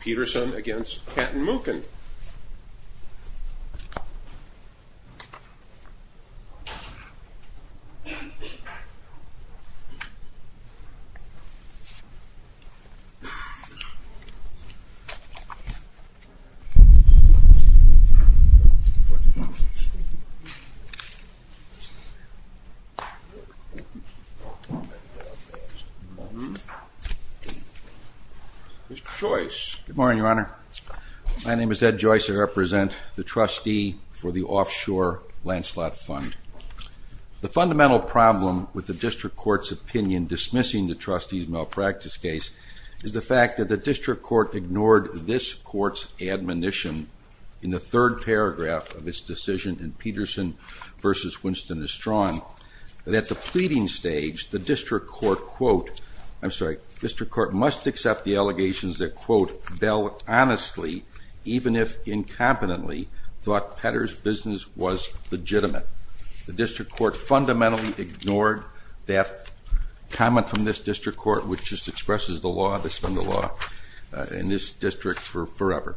Peterson v. Katten Muchin Mr. Joyce Good morning your honor my name is Ed Joyce I represent the trustee for the offshore Lancelot fund. The fundamental problem with the district court's opinion dismissing the trustee's malpractice case is the fact that the district court ignored this court's admonition in the third paragraph of its decision in Peterson v. Winston is strong that the pleading stage the district court quote I'm sorry district court must accept the allegations that quote Bell honestly even if incompetently thought Petter's business was legitimate. The district court fundamentally ignored that comment from this district court which just expresses the law that's been the law in this district for forever.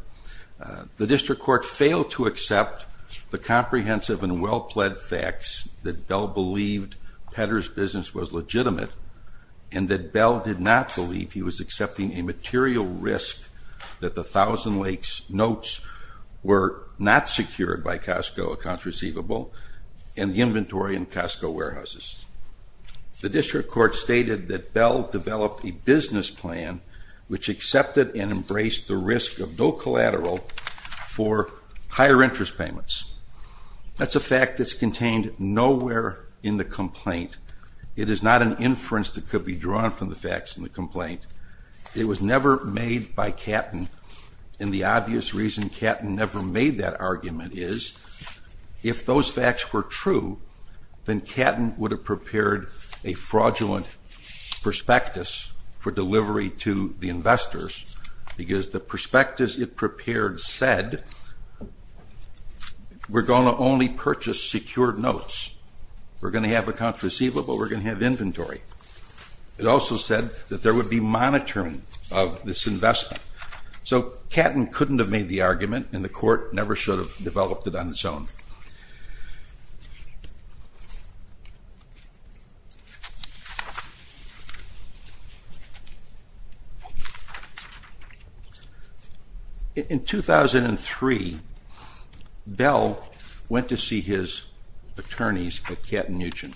The district court failed to accept the comprehensive and well-pled facts that Bell believed Petter's business was legitimate and that Bell did not believe he was accepting a material risk that the Thousand Lakes notes were not secured by Costco accounts receivable and the inventory in Costco warehouses. The district court stated that Bell developed a business plan which accepted and embraced the risk of no collateral for higher interest payments that's a fact that's contained nowhere in the complaint. It is not an inference that could be drawn from the facts in the complaint. It was never made by Catton and the obvious reason Catton never made that argument is if those facts were true then Catton would have prepared a fraudulent prospectus for delivery to the investors because the prospectus it prepared said we're going to only purchase secured notes. We're going to have accounts receivable, we're going to have inventory. It also said that there would be monitoring of this investment. So Catton couldn't have made the argument and the court never should have developed it on its own. In 2003, Bell went to see his attorneys at Catton Newton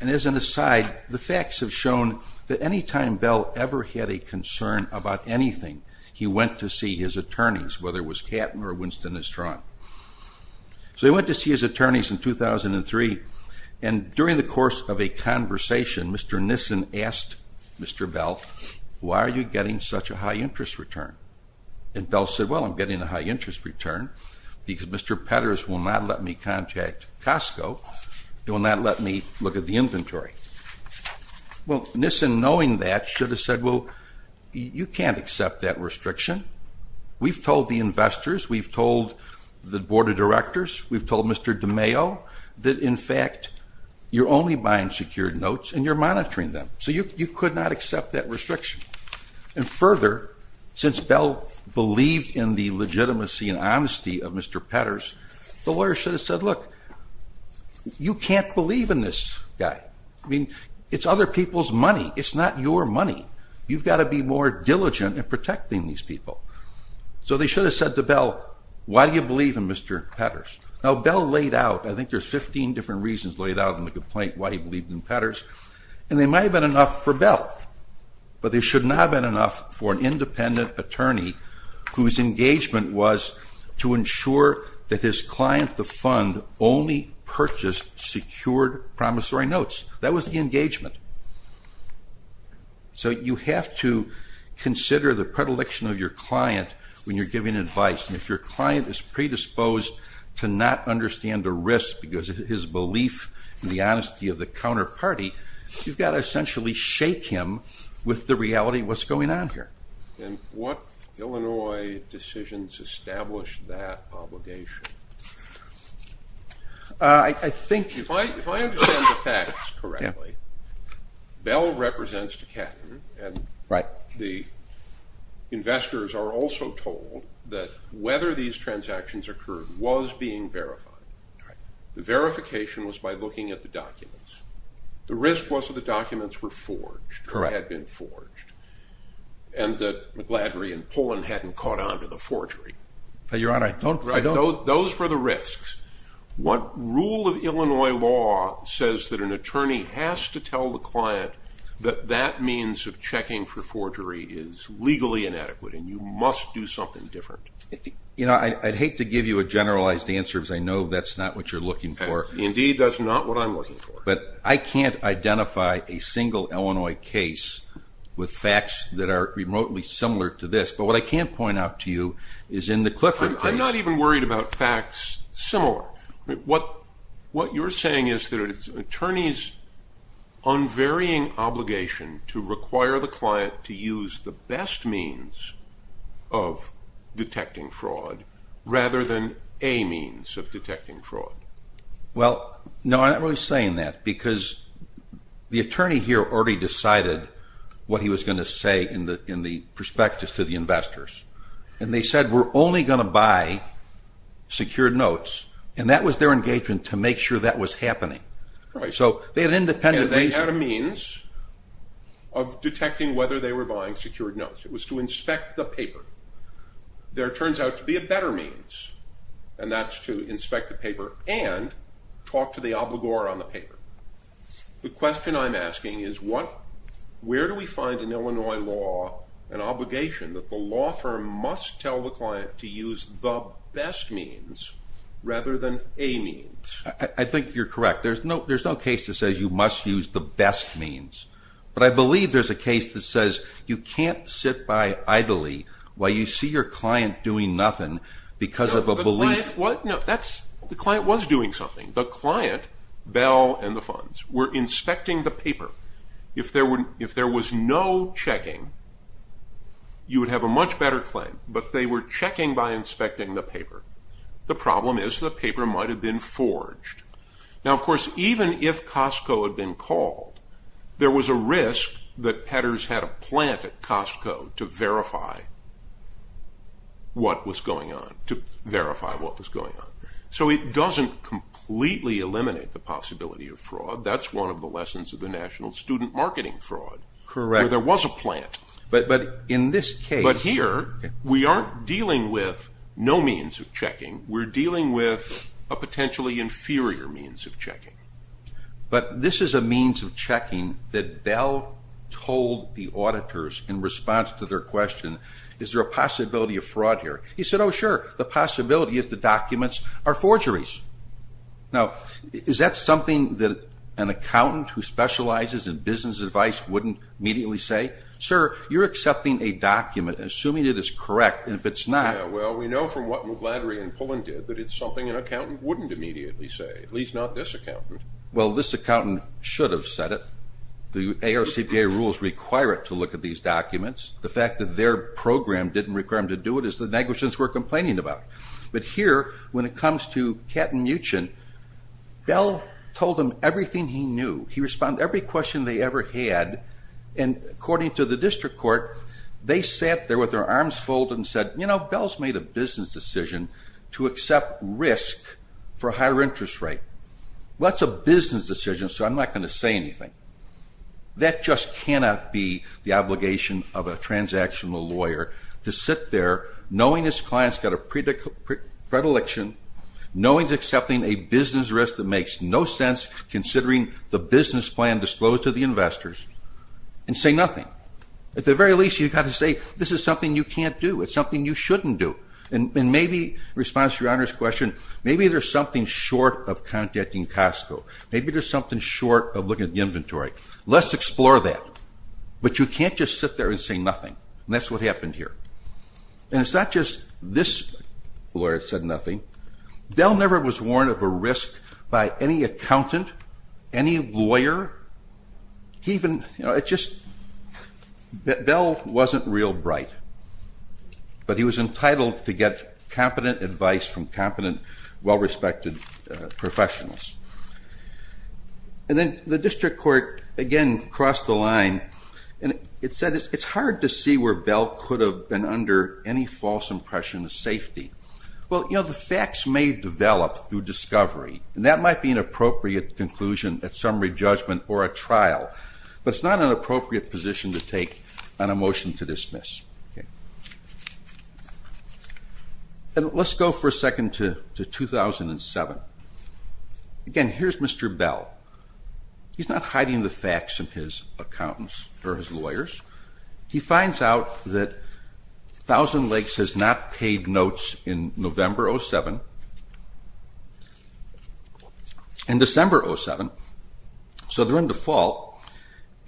and as an aside the facts have shown that anytime Bell ever had a concern about anything he went to see his attorneys whether it was Catton or Winston Estrand. So he went to see his attorneys in 2003 and during the course of a conversation Mr. Nissen asked Mr. Bell why are you getting such a high interest return and Bell said well I'm getting a high interest return because Mr. Petters will not let me contact Costco, he will not let me look at the inventory. Well Nissen knowing that should have said well you can't accept that restriction. We've told the investors, we've told the board of directors, we've told Mr. DeMaio that in fact you're only buying secured notes and you're monitoring them. So you could not accept that restriction and further since Bell believed in the legitimacy and honesty of Mr. Petters the lawyer should have said look, you can't believe in this guy. I mean it's other people's money, it's not your money. You've got to be more diligent in protecting these people. So they should have said to Bell why do you believe in Mr. Petters? Now Bell laid out, I think there's 15 different reasons laid out in the complaint why he believed in Petters and they might have been enough for Bell but they should not have been enough for an independent attorney whose engagement was to ensure that his client, the fund, only purchased secured promissory notes. That was the engagement. So you have to consider the predilection of your client when you're giving advice and if your client is predisposed to not understand the risk because of his belief in the honesty of the counterparty, you've got to essentially shake him with the reality of what's going on here. And what Illinois decisions established that obligation? If I understand the facts correctly, Bell represents Decathlon and the investors are also told that whether these transactions occurred was being verified. The verification was by looking at the documents. The risk was that the documents were forged or had been forged and that McLadry and Pullen hadn't caught on to the forgery. But Your Honor, I don't... Those were the risks. What rule of Illinois law says that an attorney has to tell the client that that means of checking for forgery is legally inadequate and you must do something different? You know, I'd hate to give you a generalized answer because I know that's not what you're looking for. Indeed, that's not what I'm looking for. But I can't identify a single Illinois case with facts that are remotely similar to this. But what I can point out to you is in the Clifford case... I'm not even worried about facts similar. What you're saying is that it's an attorney's unvarying obligation to require the client to use the best means of detecting fraud rather than a means of detecting fraud. Well, no, I'm not really saying that because the attorney here already decided what he was going to say in the perspective to the investors. And they said, we're only going to buy secured notes. And that was their engagement to make sure that was happening. So they had independent... And they had a means of detecting whether they were buying secured notes. It was to inspect the paper. There turns out to be a better means, and that's to inspect the paper and talk to the obligor on the paper. The question I'm asking is, where do we find in Illinois law an obligation that the law firm must tell the client to use the best means rather than a means? I think you're correct. There's no case that says you must use the best means. But I believe there's a case that says you can't sit by idly while you see your client doing nothing because of a belief... No, the client was doing something. The client, Bell and the funds, were inspecting the paper. If there was no checking, you would have a much better claim. But they were checking by inspecting the paper. The problem is the paper might have been forged. Now, of course, even if Costco had been called, there was a risk that Petters had a plant at Costco to verify what was going on, to verify what was going on. So it doesn't completely eliminate the possibility of fraud. That's one of the lessons of the National Student Marketing Fraud, where there was a plant. Correct. But in this case... But here, we aren't dealing with no means of checking. We're dealing with a potentially inferior means of checking. But this is a means of checking that Bell told the auditors in response to their question, is there a possibility of fraud here? He said, oh sure, the possibility is the documents are forgeries. Now, is that something that an accountant who specializes in business advice wouldn't immediately say? Sir, you're accepting a document, assuming it is correct, and if it's not... Yeah, well, we know from what McLadry and Pullen did that it's something an accountant wouldn't immediately say, at least not this accountant. Well, this accountant should have said it. The ARCPA rules require it to look at these documents. The fact that their program didn't require them to do it is the negligence we're complaining about. But here, when it comes to Katten-Muechen, Bell told them everything he knew. He responded to every question they ever had, and according to the district court, they sat there with their arms folded and said, you know, Bell's made a business decision to accept risk for a higher interest rate. Well, that's a business decision, so I'm not going to say anything. That just cannot be the obligation of a transactional lawyer, to sit there, knowing his client's got a predilection, knowing he's accepting a business risk that makes no sense, considering the business plan disclosed to the investors, and say nothing. At the very least, you've got to say, this is something you can't do, it's something you shouldn't do, and maybe, in response to your Honor's question, maybe there's something short of contacting Costco, maybe there's something short of looking at the inventory. Let's explore that. But you can't just sit there and say nothing, and that's what happened here. And it's not just this lawyer that said nothing. Bell never was warned of a risk by any accountant, any lawyer, he even, you know, it just, Bell wasn't real bright, but he was entitled to get competent advice from competent, well-respected professionals. And then the district court, again, crossed the line, and it said it's hard to see where Bell could have been under any false impression of safety. Well, you know, the facts may develop through discovery, and that might be an appropriate conclusion at summary judgment or a trial, but it's not an appropriate position to take on a motion to dismiss. And let's go for a second to 2007. Again, here's Mr. Bell. He's not hiding the facts from his accountants or his lawyers. He finds out that Thousand Lakes has not paid notes in November 07 and December 07, so they're on default.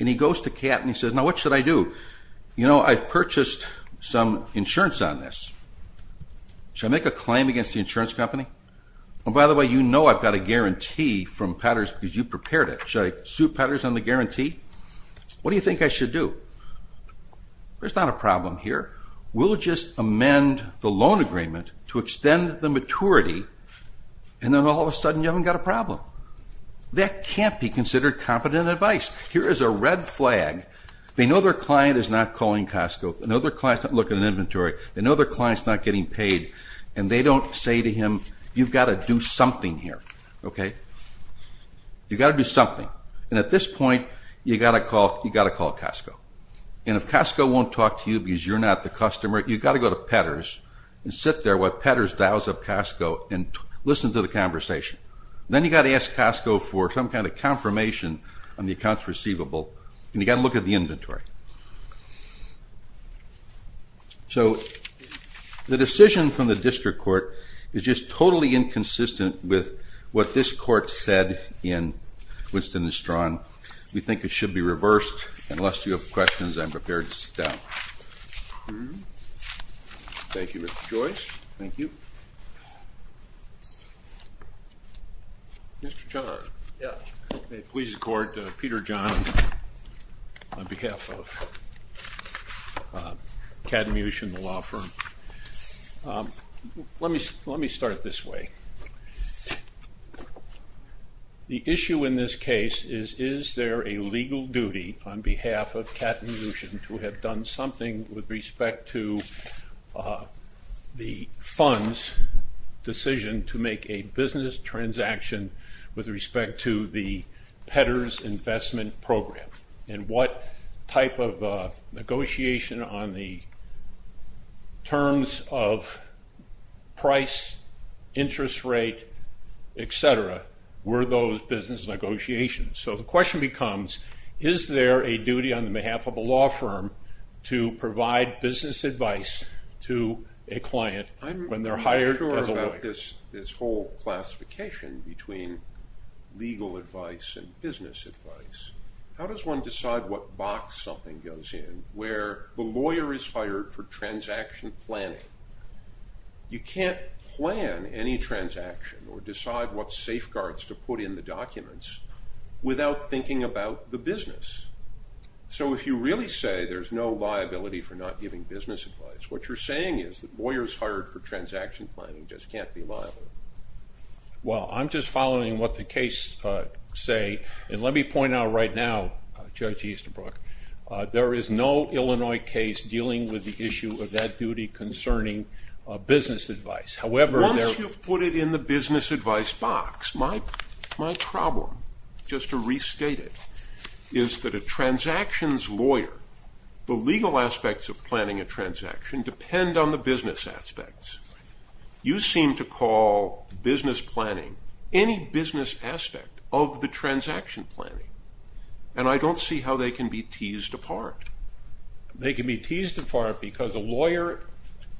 And he goes to Kat and he says, now what should I do? You know, I've purchased some insurance on this, should I make a claim against the insurance company? Oh, by the way, you know I've got a guarantee from Petters because you prepared it. Should I sue Petters on the guarantee? What do you think I should do? There's not a problem here. We'll just amend the loan agreement to extend the maturity, and then all of a sudden you haven't got a problem. That can't be considered competent advice. Here is a red flag. They know their client is not calling Costco, they know their client is not looking at inventory, they know their client is not getting paid, and they don't say to him, you've got to do something here, okay? You've got to do something. And at this point, you've got to call Costco. And if Costco won't talk to you because you're not the customer, you've got to go to Petters and sit there while Petters dials up Costco and listen to the conversation. Then you've got to ask Costco for some kind of confirmation on the accounts receivable, and you've got to look at the inventory. So the decision from the district court is just totally inconsistent with what this court said in Winston and Strawn. We think it should be reversed, and lest you have questions, I'm prepared to sit down. Thank you, Mr. Joyce. Thank you. Thank you. Thank you. Mr. John. Yeah. It pleases the court, Peter John, on behalf of Kat and Lucien, the law firm. Let me start this way. The issue in this case is, is there a legal duty on behalf of Kat and Lucien to have done something with respect to the fund's decision to make a business transaction with respect to the Petters investment program? And what type of negotiation on the terms of price, interest rate, et cetera, were those business negotiations? So the question becomes, is there a duty on behalf of a law firm to provide business advice to a client when they're hired as a lawyer? I'm not sure about this whole classification between legal advice and business advice. How does one decide what box something goes in where the lawyer is hired for transaction planning? You can't plan any transaction or decide what safeguards to put in the documents without thinking about the business. So if you really say there's no liability for not giving business advice, what you're saying is that lawyers hired for transaction planning just can't be liable. Well, I'm just following what the case say, and let me point out right now, Judge Easterbrook, there is no Illinois case dealing with the issue of that duty concerning business advice. Once you've put it in the business advice box, my problem, just to restate it, is that a transaction's lawyer, the legal aspects of planning a transaction depend on the business aspects. You seem to call business planning any business aspect of the transaction planning, and I can be teased apart. They can be teased apart because a lawyer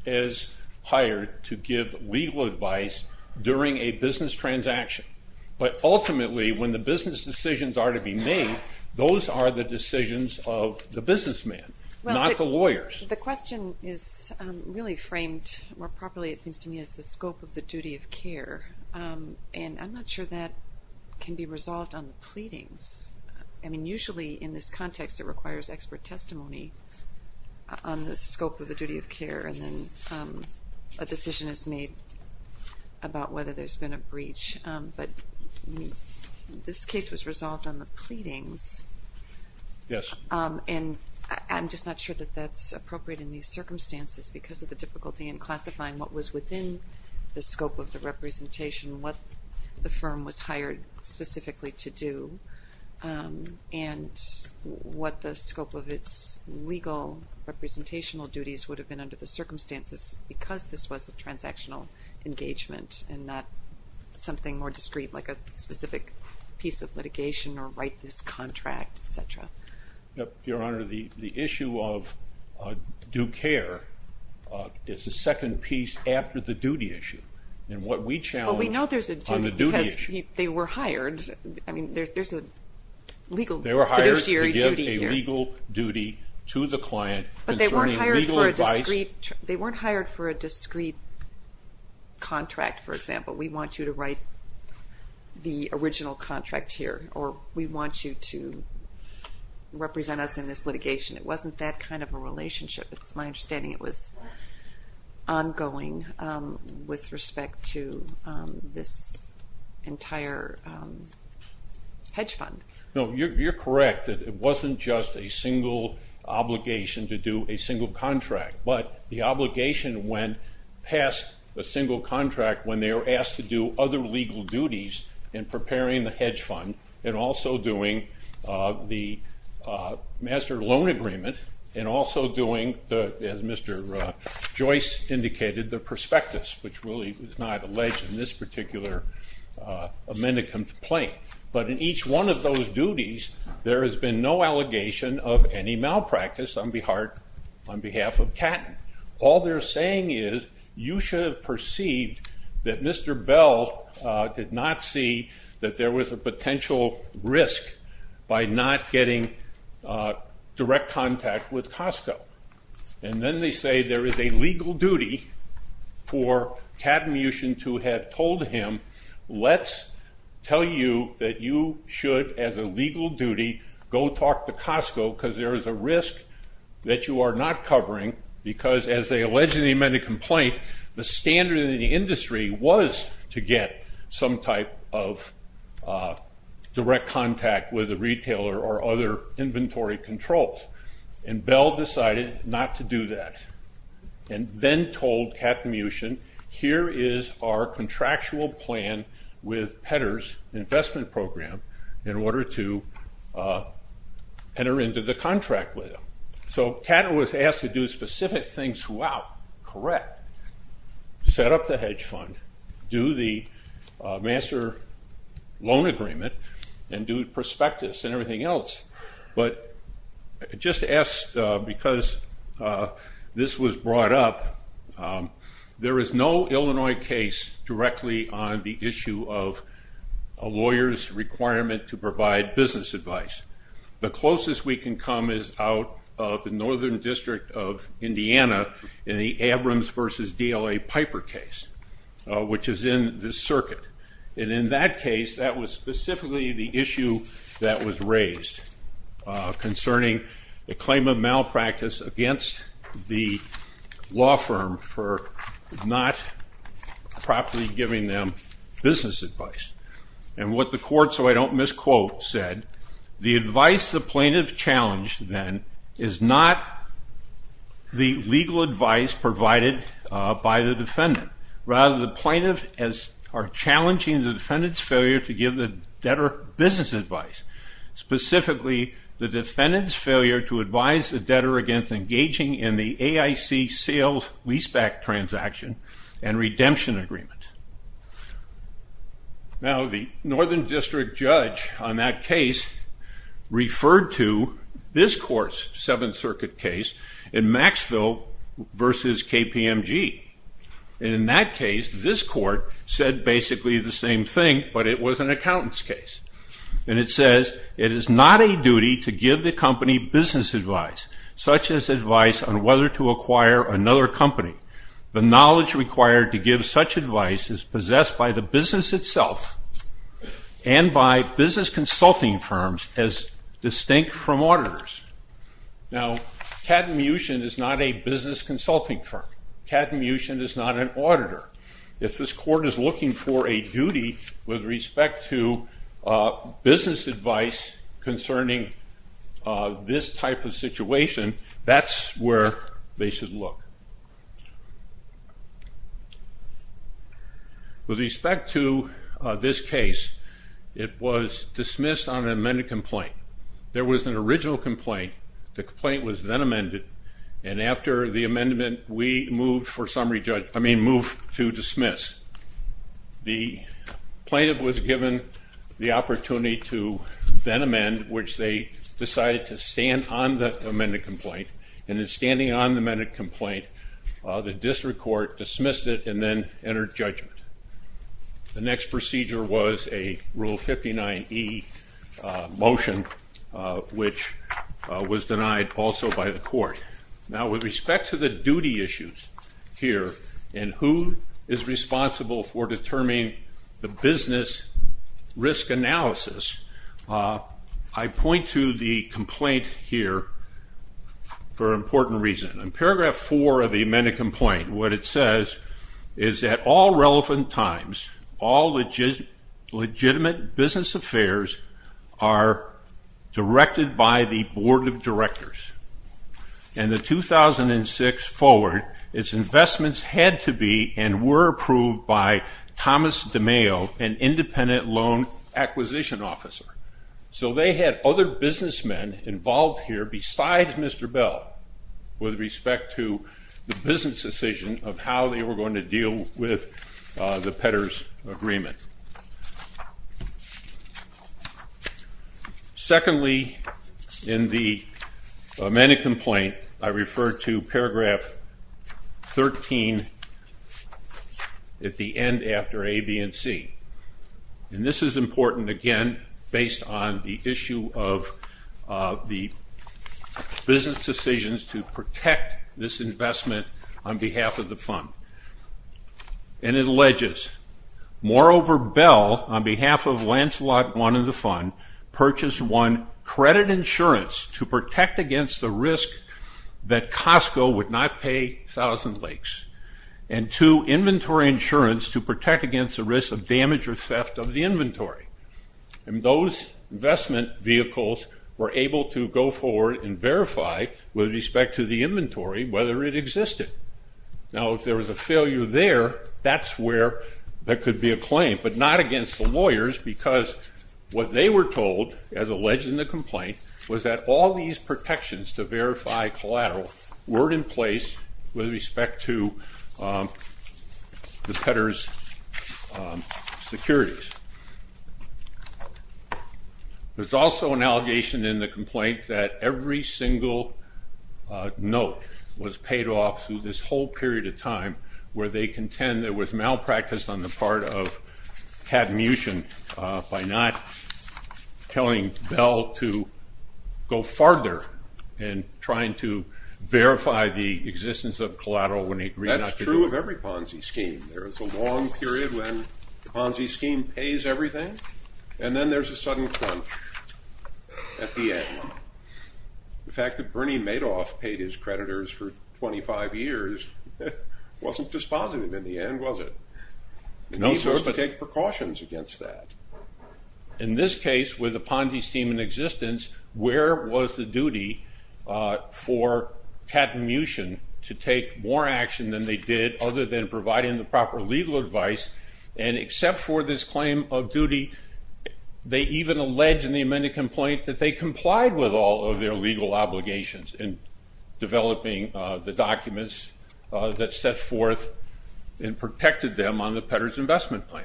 is hired to give legal advice during a business transaction. But ultimately, when the business decisions are to be made, those are the decisions of the businessman, not the lawyers. The question is really framed more properly, it seems to me, as the scope of the duty of care, and I'm not sure that can be resolved on the pleadings. I mean, usually, in this context, it requires expert testimony on the scope of the duty of care, and then a decision is made about whether there's been a breach, but this case was resolved on the pleadings, and I'm just not sure that that's appropriate in these circumstances because of the difficulty in classifying what was within the scope of the And what the scope of its legal representational duties would have been under the circumstances because this was a transactional engagement and not something more discreet like a specific piece of litigation or write this contract, et cetera. Your Honor, the issue of due care is the second piece after the duty issue, and what we challenge on the duty issue. They were hired. I mean, there's a legal fiduciary duty here. They were hired to give a legal duty to the client concerning legal advice. They weren't hired for a discreet contract, for example. We want you to write the original contract here, or we want you to represent us in this litigation. It wasn't that kind of a relationship. It's my understanding it was ongoing with respect to this entire hedge fund. No, you're correct. It wasn't just a single obligation to do a single contract, but the obligation went past the single contract when they were asked to do other legal duties in preparing the hedge fund and also doing the master loan agreement and also doing, as Mr. Joyce indicated, the prospectus, which really was not alleged in this particular amended complaint. But in each one of those duties, there has been no allegation of any malpractice on behalf of Catton. All they're saying is you should have perceived that Mr. Bell did not see that there was a potential risk by not getting direct contact with Costco. And then they say there is a legal duty for Catton Mution to have told him, let's tell you that you should, as a legal duty, go talk to Costco because there is a risk that you are not covering because, as they allege in the amended complaint, the standard in the direct contact with a retailer or other inventory controls. And Bell decided not to do that and then told Catton Mution, here is our contractual plan with Pedder's investment program in order to enter into the contract with them. So Catton was asked to do specific things throughout, correct, set up the hedge fund, do the master loan agreement, and do prospectus and everything else. But just to ask, because this was brought up, there is no Illinois case directly on the issue of a lawyer's requirement to provide business advice. The closest we can come is out of the Northern District of Indiana in the Abrams v. DLA Piper case, which is in this circuit. And in that case, that was specifically the issue that was raised concerning the claim of malpractice against the law firm for not properly giving them business advice. And what the court, so I don't misquote, said, the advice the plaintiff challenged then is not the legal advice provided by the defendant, rather the plaintiff is challenging the defendant's failure to give the debtor business advice, specifically the defendant's failure to advise the debtor against engaging in the AIC sales leaseback transaction and redemption agreement. Now, the Northern District judge on that case referred to this court's Seventh Circuit case in Maxville v. KPMG. In that case, this court said basically the same thing, but it was an accountant's case. And it says, it is not a duty to give the company business advice, such as advice on whether to acquire another company. The knowledge required to give such advice is possessed by the business itself and by business consulting firms as distinct from auditors. Now Cadmucian is not a business consulting firm. Cadmucian is not an auditor. If this court is looking for a duty with respect to business advice concerning this type of case, with respect to this case, it was dismissed on an amended complaint. There was an original complaint, the complaint was then amended, and after the amendment, we moved for summary judge, I mean moved to dismiss. The plaintiff was given the opportunity to then amend, which they decided to stand on the amended complaint, and in standing on the amended complaint, the district court dismissed it and then entered judgment. The next procedure was a Rule 59e motion, which was denied also by the court. Now with respect to the duty issues here and who is responsible for determining the business risk analysis, I point to the complaint here for an important reason. In paragraph 4 of the amended complaint, what it says is that all relevant times, all legitimate business affairs are directed by the Board of Directors, and the 2006 forward, its investments had to be and were approved by Thomas DeMeo, an independent loan acquisition officer. So they had other businessmen involved here besides Mr. Bell with respect to the business decision of how they were going to deal with the Petters Agreement. Secondly, in the amended complaint, I refer to paragraph 13 at the end after A, B, and C. And this is important, again, based on the issue of the business decisions to protect this investment on behalf of the fund. And it alleges, moreover, Bell, on behalf of Lancelot wanted the fund, purchased one, credit insurance to protect against the risk that Costco would not pay Thousand Lakes, and two, inventory insurance to protect against the risk of damage or theft of the inventory. And those investment vehicles were able to go forward and verify with respect to the inventory whether it existed. Now, if there was a failure there, that's where there could be a claim, but not against the lawyers because what they were told, as alleged in the complaint, was that all these protections to verify collateral were in place with respect to the Petters securities. There's also an allegation in the complaint that every single note was paid off through this whole period of time where they contend there was malpractice on the part of Pat Muchen by not telling Bell to go farther in trying to verify the existence of collateral when he agreed not to do it. That's true of every Ponzi scheme. There is a long period when the Ponzi scheme pays everything, and then there's a sudden crunch at the end. The fact that Bernie Madoff paid his creditors for 25 years wasn't dispositive in the end, was it? And he was to take precautions against that. In this case, with a Ponzi scheme in existence, where was the duty for Pat Muchen to take more action than they did other than providing the proper legal advice, and except for this claim of duty, they even allege in the amended complaint that they complied with all of their legal obligations in developing the documents that set forth and protected them on the Petters investment plan.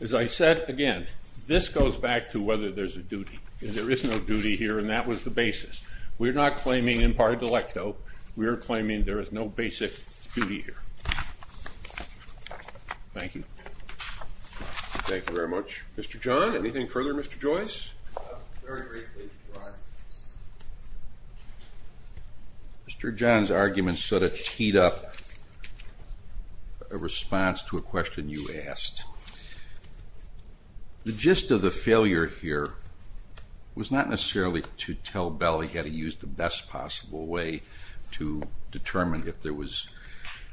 As I said, again, this goes back to whether there's a duty. There is no duty here, and that was the basis. We're not claiming imparted delecto. We are claiming there is no basic duty here. Thank you. Thank you very much. Mr. John, anything further? Mr. Joyce? Very briefly, Brian. Mr. John's argument sort of teed up a response to a question you asked. The gist of the failure here was not necessarily to tell Bell he had to use the best possible way to determine if there was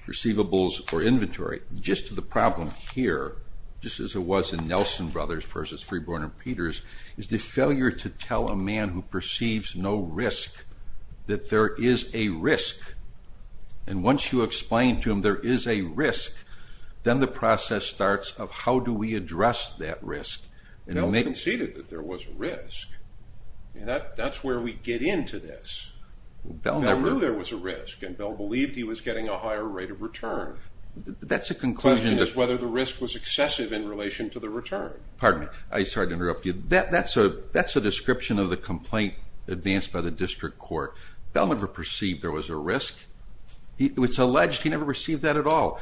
receivables or inventory. The gist of the problem here, just as it was in Nelson Brothers versus Freeborn and Petters, is the failure to tell a man who perceives no risk that there is a risk. Once you explain to him there is a risk, then the process starts of how do we address that risk. Bell conceded that there was a risk. That's where we get into this. Bell knew there was a risk, and Bell believed he was getting a higher rate of return. The question is whether the risk was excessive in relation to the return. Pardon me. I'm sorry to interrupt you. That's a description of the complaint advanced by the district court. Bell never perceived there was a risk. It's alleged he never received that at all.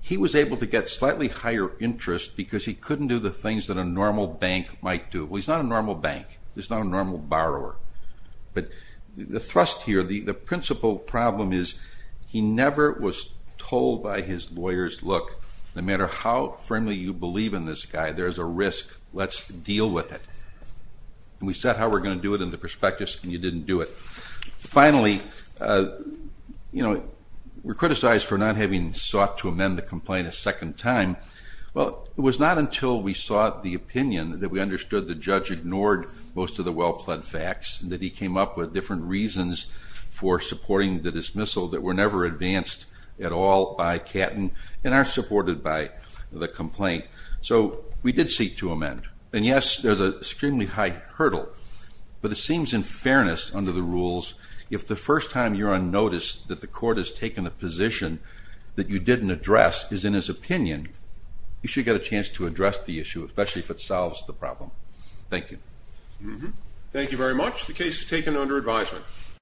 He was able to get slightly higher interest because he couldn't do the things that a normal bank might do. Well, he's not a normal bank. He's not a normal borrower. But the thrust here, the principal problem is he never was told by his lawyers, look, no matter how firmly you believe in this guy, there's a risk. Let's deal with it. We set how we're going to do it in the prospectus, and you didn't do it. Finally, you know, we're criticized for not having sought to amend the complaint a second time. Well, it was not until we sought the opinion that we understood the judge ignored most of the well-pled facts, that he came up with different reasons for supporting the dismissal that were never advanced at all by Catton and aren't supported by the complaint. So we did seek to amend. And yes, there's an extremely high hurdle, but it seems in fairness under the rules, if the first time you're on notice that the court has taken a position that you didn't address is in his opinion, you should get a chance to address the issue, especially if it solves the problem. Thank you. Thank you very much. The case is taken under advisement.